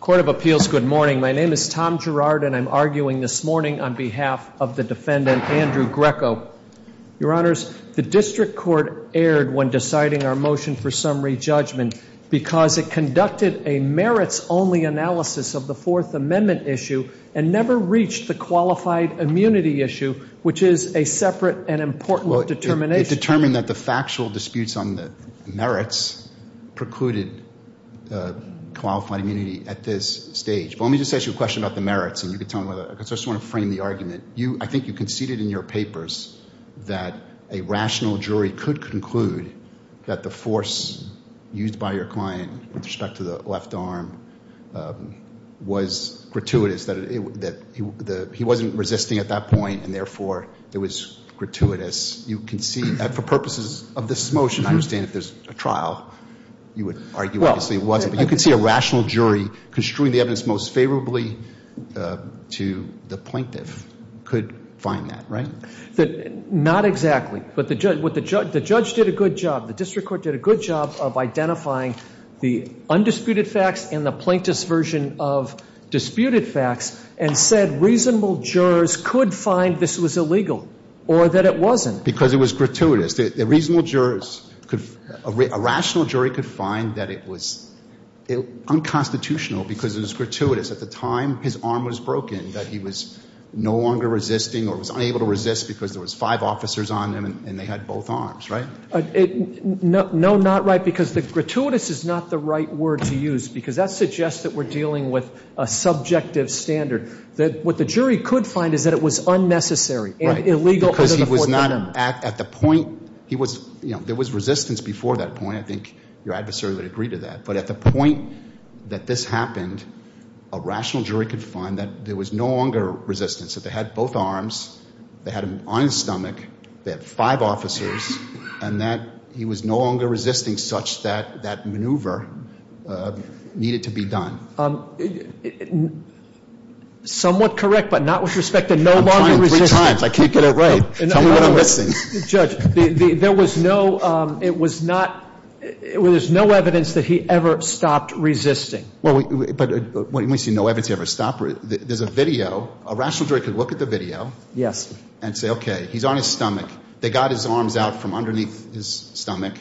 Good morning. My name is Tom Girard and I'm arguing this morning on behalf of the defendant, Andrew Greco. Your Honors, the District Court erred when deciding our motion for summary judgment because it conducted a merits-only analysis of the Fourth Amendment issue and never reached the qualified immunity issue, which is a separate and important determination. It determined that the factual disputes on the merits precluded qualified immunity at this stage. But let me just ask you a question about the merits and you can tell me whether – because I just want to frame the argument. I think you conceded in your papers that a rational jury could conclude that the force used by your client with respect to the left arm was gratuitous, that he wasn't resisting at that point and therefore it was gratuitous. You concede that for purposes of this motion, I understand if there's a trial, you would argue obviously it wasn't. But you concede a rational jury construing the evidence most favorably to the plaintiff could find that, right? Not exactly. But the judge did a good job, the District Court did a good job of identifying the undisputed facts and the plaintiff's version of disputed facts and said reasonable jurors could find this was illegal or that it wasn't. Because it was gratuitous. Because the reasonable jurors could – a rational jury could find that it was unconstitutional because it was gratuitous. At the time, his arm was broken, that he was no longer resisting or was unable to resist because there was five officers on him and they had both arms, right? No, not right because the gratuitous is not the right word to use because that suggests that we're dealing with a subjective standard. What the jury could find is that it was unnecessary and illegal under the Fourth Amendment. At the point he was – there was resistance before that point. I think your adversary would agree to that. But at the point that this happened, a rational jury could find that there was no longer resistance, that they had both arms, they had him on his stomach, they had five officers, and that he was no longer resisting such that that maneuver needed to be done. Somewhat correct but not with respect to no longer resisting. I'm trying three times. I can't get it right. Tell me what I'm missing. Judge, there was no – it was not – there's no evidence that he ever stopped resisting. But when you say no evidence he ever stopped – there's a video. A rational jury could look at the video and say, okay, he's on his stomach. They got his arms out from underneath his stomach.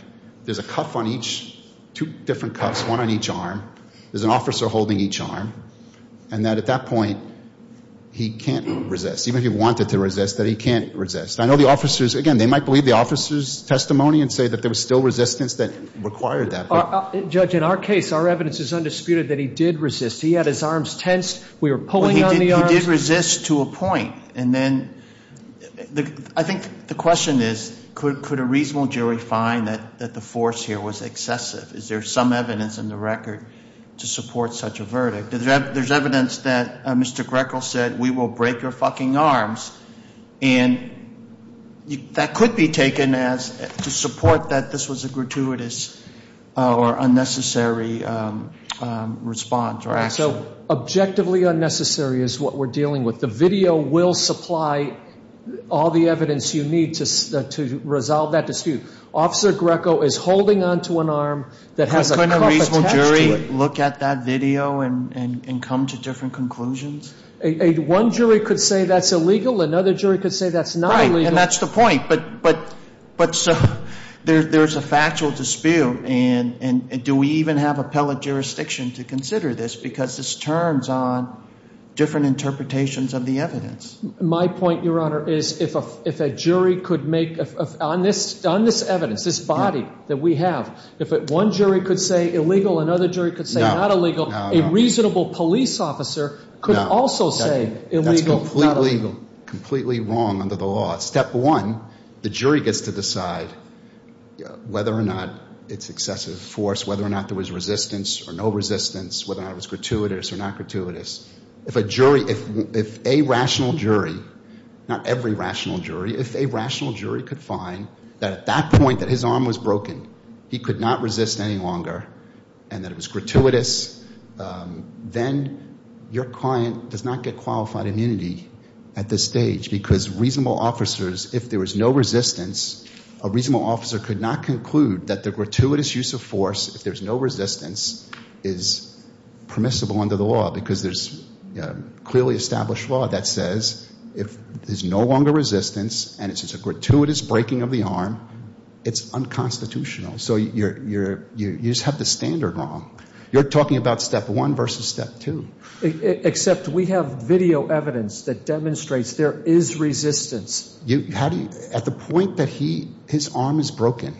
There's a cuff on each – two different cuffs, one on each arm. There's an officer holding each arm. And that at that point he can't resist. Even if he wanted to resist, that he can't resist. I know the officers – again, they might believe the officers' testimony and say that there was still resistance that required that. Judge, in our case, our evidence is undisputed that he did resist. He had his arms tensed. We were pulling on the arms. He did resist to a point. And then I think the question is could a reasonable jury find that the force here was excessive? Is there some evidence in the record to support such a verdict? There's evidence that Mr. Greco said, we will break your fucking arms. And that could be taken as – to support that this was a gratuitous or unnecessary response or action. So objectively unnecessary is what we're dealing with. The video will supply all the evidence you need to resolve that dispute. Officer Greco is holding onto an arm that has a cuff attached to it. Can we look at that video and come to different conclusions? One jury could say that's illegal. Another jury could say that's not illegal. Right, and that's the point. But there's a factual dispute. And do we even have appellate jurisdiction to consider this because this turns on different interpretations of the evidence? My point, Your Honor, is if a jury could make – on this evidence, this body that we have, if one jury could say illegal, another jury could say not illegal, a reasonable police officer could also say illegal. That's completely wrong under the law. Step one, the jury gets to decide whether or not it's excessive force, whether or not there was resistance or no resistance, whether or not it was gratuitous or not gratuitous. If a jury, if a rational jury, not every rational jury, if a rational jury could find that at that point that his arm was broken he could not resist any longer and that it was gratuitous, then your client does not get qualified immunity at this stage because reasonable officers, if there was no resistance, a reasonable officer could not conclude that the gratuitous use of force, if there's no resistance, is permissible under the law because there's clearly established law that says if there's no longer resistance and it's a gratuitous breaking of the arm, it's unconstitutional. So you just have the standard wrong. You're talking about step one versus step two. Except we have video evidence that demonstrates there is resistance. At the point that his arm is broken,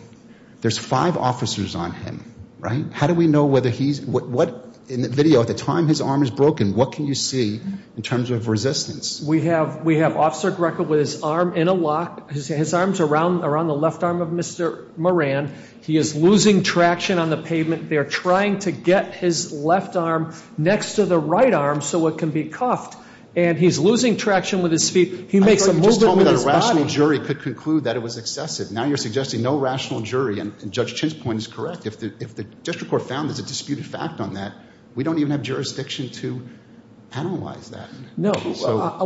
there's five officers on him, right? How do we know whether he's, what, in the video, at the time his arm is broken, what can you see in terms of resistance? We have officer Greco with his arm in a lock. His arm's around the left arm of Mr. Moran. He is losing traction on the pavement. They're trying to get his left arm next to the right arm so it can be cuffed, and he's losing traction with his feet. He makes a movement with his body. I thought you were just telling me that a rational jury could conclude that it was excessive. Now you're suggesting no rational jury, and Judge Chin's point is correct. If the district court found there's a disputed fact on that, we don't even have jurisdiction to penalize that. No.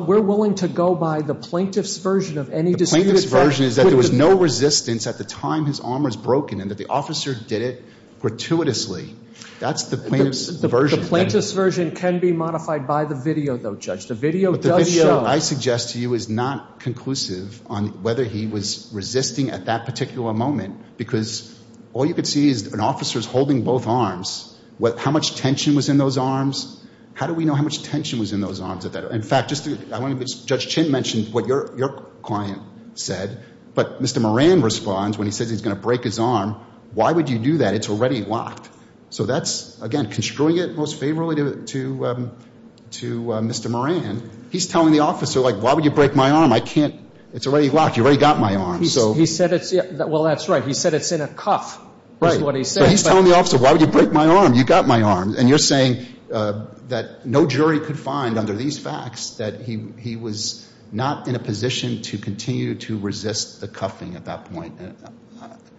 We're willing to go by the plaintiff's version of any disputed fact. The plaintiff's version is that there was no resistance at the time his arm was broken and that the officer did it gratuitously. That's the plaintiff's version. The plaintiff's version can be modified by the video, though, Judge. The video does show. What I suggest to you is not conclusive on whether he was resisting at that particular moment because all you could see is an officer's holding both arms. How much tension was in those arms? How do we know how much tension was in those arms? In fact, Judge Chin mentioned what your client said, but Mr. Moran responds when he says he's going to break his arm. Why would you do that? It's already locked. So that's, again, construing it most favorably to Mr. Moran. He's telling the officer, like, why would you break my arm? I can't. It's already locked. You already got my arm. He said it's – well, that's right. He said it's in a cuff is what he said. Right. But he's telling the officer, why would you break my arm? You got my arm. And you're saying that no jury could find under these facts that he was not in a position to continue to resist the cuffing at that point.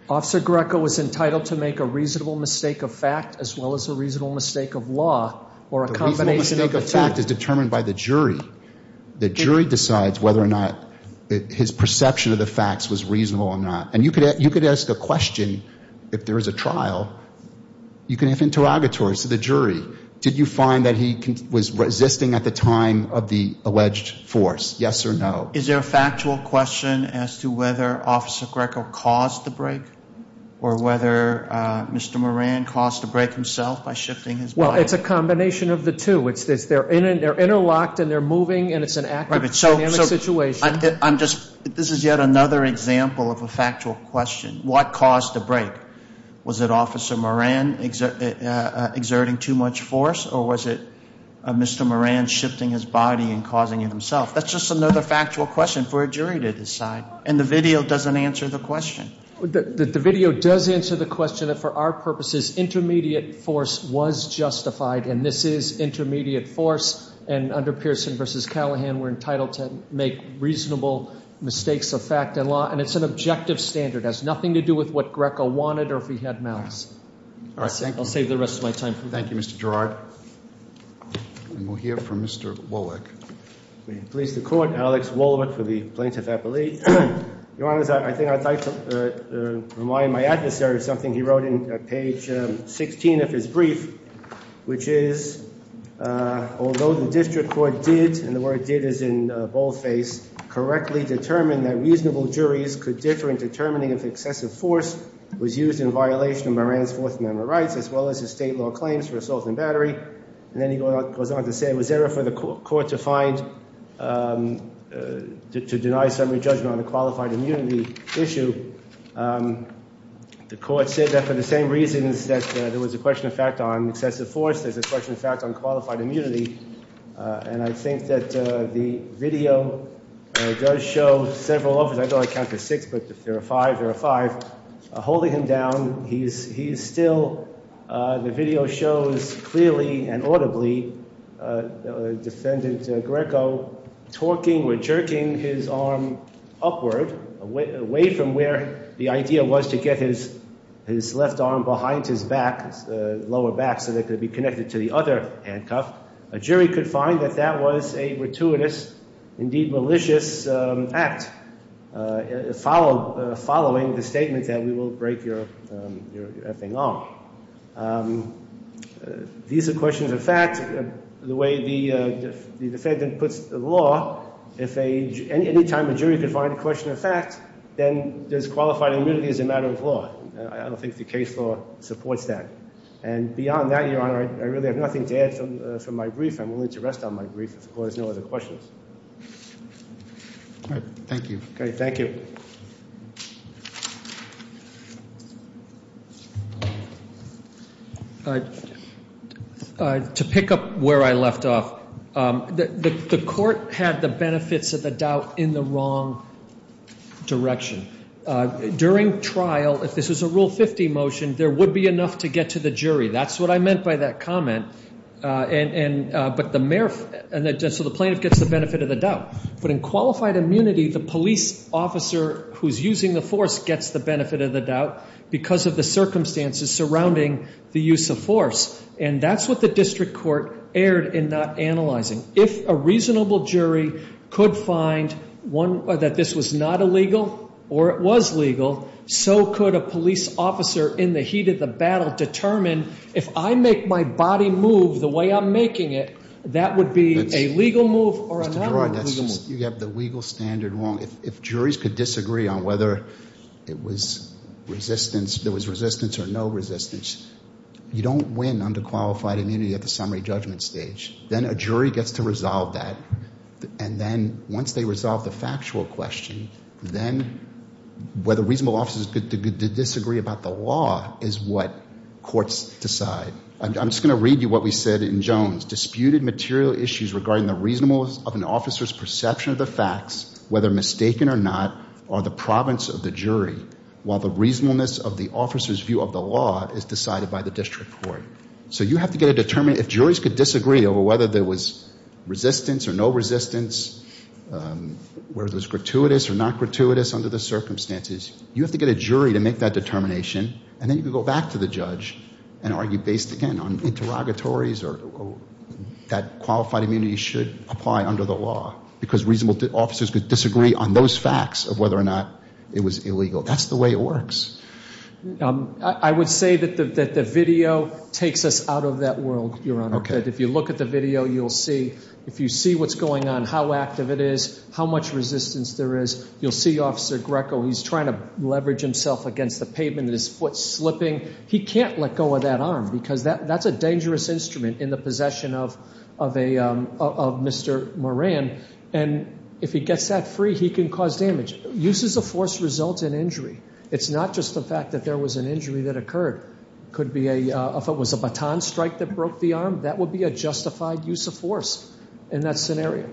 Officer Greco was entitled to make a reasonable mistake of fact as well as a reasonable mistake of law or a combination of the two. The fact is determined by the jury. The jury decides whether or not his perception of the facts was reasonable or not. And you could ask a question if there is a trial. You can have interrogatories to the jury. Did you find that he was resisting at the time of the alleged force, yes or no? Is there a factual question as to whether Officer Greco caused the break or whether Mr. Moran caused the break himself by shifting his body? Well, it's a combination of the two. They're interlocked and they're moving and it's an active dynamic situation. This is yet another example of a factual question. What caused the break? Was it Officer Moran exerting too much force or was it Mr. Moran shifting his body and causing it himself? That's just another factual question for a jury to decide. And the video doesn't answer the question. The video does answer the question. For our purposes, intermediate force was justified and this is intermediate force. And under Pearson v. Callaghan, we're entitled to make reasonable mistakes of fact and law. And it's an objective standard. It has nothing to do with what Greco wanted or if he had mouths. I'll save the rest of my time for that. Thank you, Mr. Gerard. And we'll hear from Mr. Wolwick. May it please the Court, Alex Wolwick for the Plaintiff's Appeal. Your Honor, I think I'd like to remind my adversary of something he wrote in page 16 of his brief, which is although the district court did, and the word did is in boldface, correctly determine that reasonable juries could differ in determining if excessive force was used in violation of Moran's Fourth Amendment rights as well as the state law claims for assault and battery. And then he goes on to say it was error for the court to find, to deny summary judgment on a qualified immunity issue. The court said that for the same reasons that there was a question of fact on excessive force, there's a question of fact on qualified immunity. And I think that the video does show several of them. I thought I counted six, but if there are five, there are five. Holding him down, he's still, the video shows clearly and audibly, defendant Greco talking or jerking his arm upward, away from where the idea was to get his left arm behind his back, lower back, so that it could be connected to the other handcuff. A jury could find that that was a gratuitous, indeed malicious act, following the statement that we will break your f-ing arm. These are questions of fact. The way the defendant puts the law, if any time a jury could find a question of fact, then there's qualified immunity as a matter of law. I don't think the case law supports that. And beyond that, Your Honor, I really have nothing to add from my brief. I'm willing to rest on my brief if the court has no other questions. All right. Thank you. Okay. Thank you. To pick up where I left off, the court had the benefits of the doubt in the wrong direction. During trial, if this was a Rule 50 motion, there would be enough to get to the jury. That's what I meant by that comment. But the mayor, so the plaintiff gets the benefit of the doubt. But in qualified immunity, the police officer who's using the force gets the benefit of the doubt because of the circumstances surrounding the use of force. And that's what the district court erred in not analyzing. If a reasonable jury could find that this was not illegal or it was legal, so could a police officer in the heat of the battle determine, if I make my body move the way I'm making it, that would be a legal move or another legal move. You have the legal standard wrong. If juries could disagree on whether there was resistance or no resistance, you don't win under qualified immunity at the summary judgment stage. Then a jury gets to resolve that. And then once they resolve the factual question, then whether reasonable officers could disagree about the law is what courts decide. I'm just going to read you what we said in Jones. Disputed material issues regarding the reasonableness of an officer's perception of the facts, whether mistaken or not, are the province of the jury, while the reasonableness of the officer's view of the law is decided by the district court. So you have to get a determination. If juries could disagree over whether there was resistance or no resistance, whether it was gratuitous or not gratuitous under the circumstances, you have to get a jury to make that determination. And then you can go back to the judge and argue based, again, on interrogatories or that qualified immunity should apply under the law because reasonable officers could disagree on those facts of whether or not it was illegal. That's the way it works. I would say that the video takes us out of that world, Your Honor. If you look at the video, you'll see. If you see what's going on, how active it is, how much resistance there is. You'll see Officer Greco. He's trying to leverage himself against the pavement, his foot slipping. He can't let go of that arm because that's a dangerous instrument in the possession of Mr. Moran. And if he gets that free, he can cause damage. Use as a force results in injury. It's not just the fact that there was an injury that occurred. If it was a baton strike that broke the arm, that would be a justified use of force in that scenario.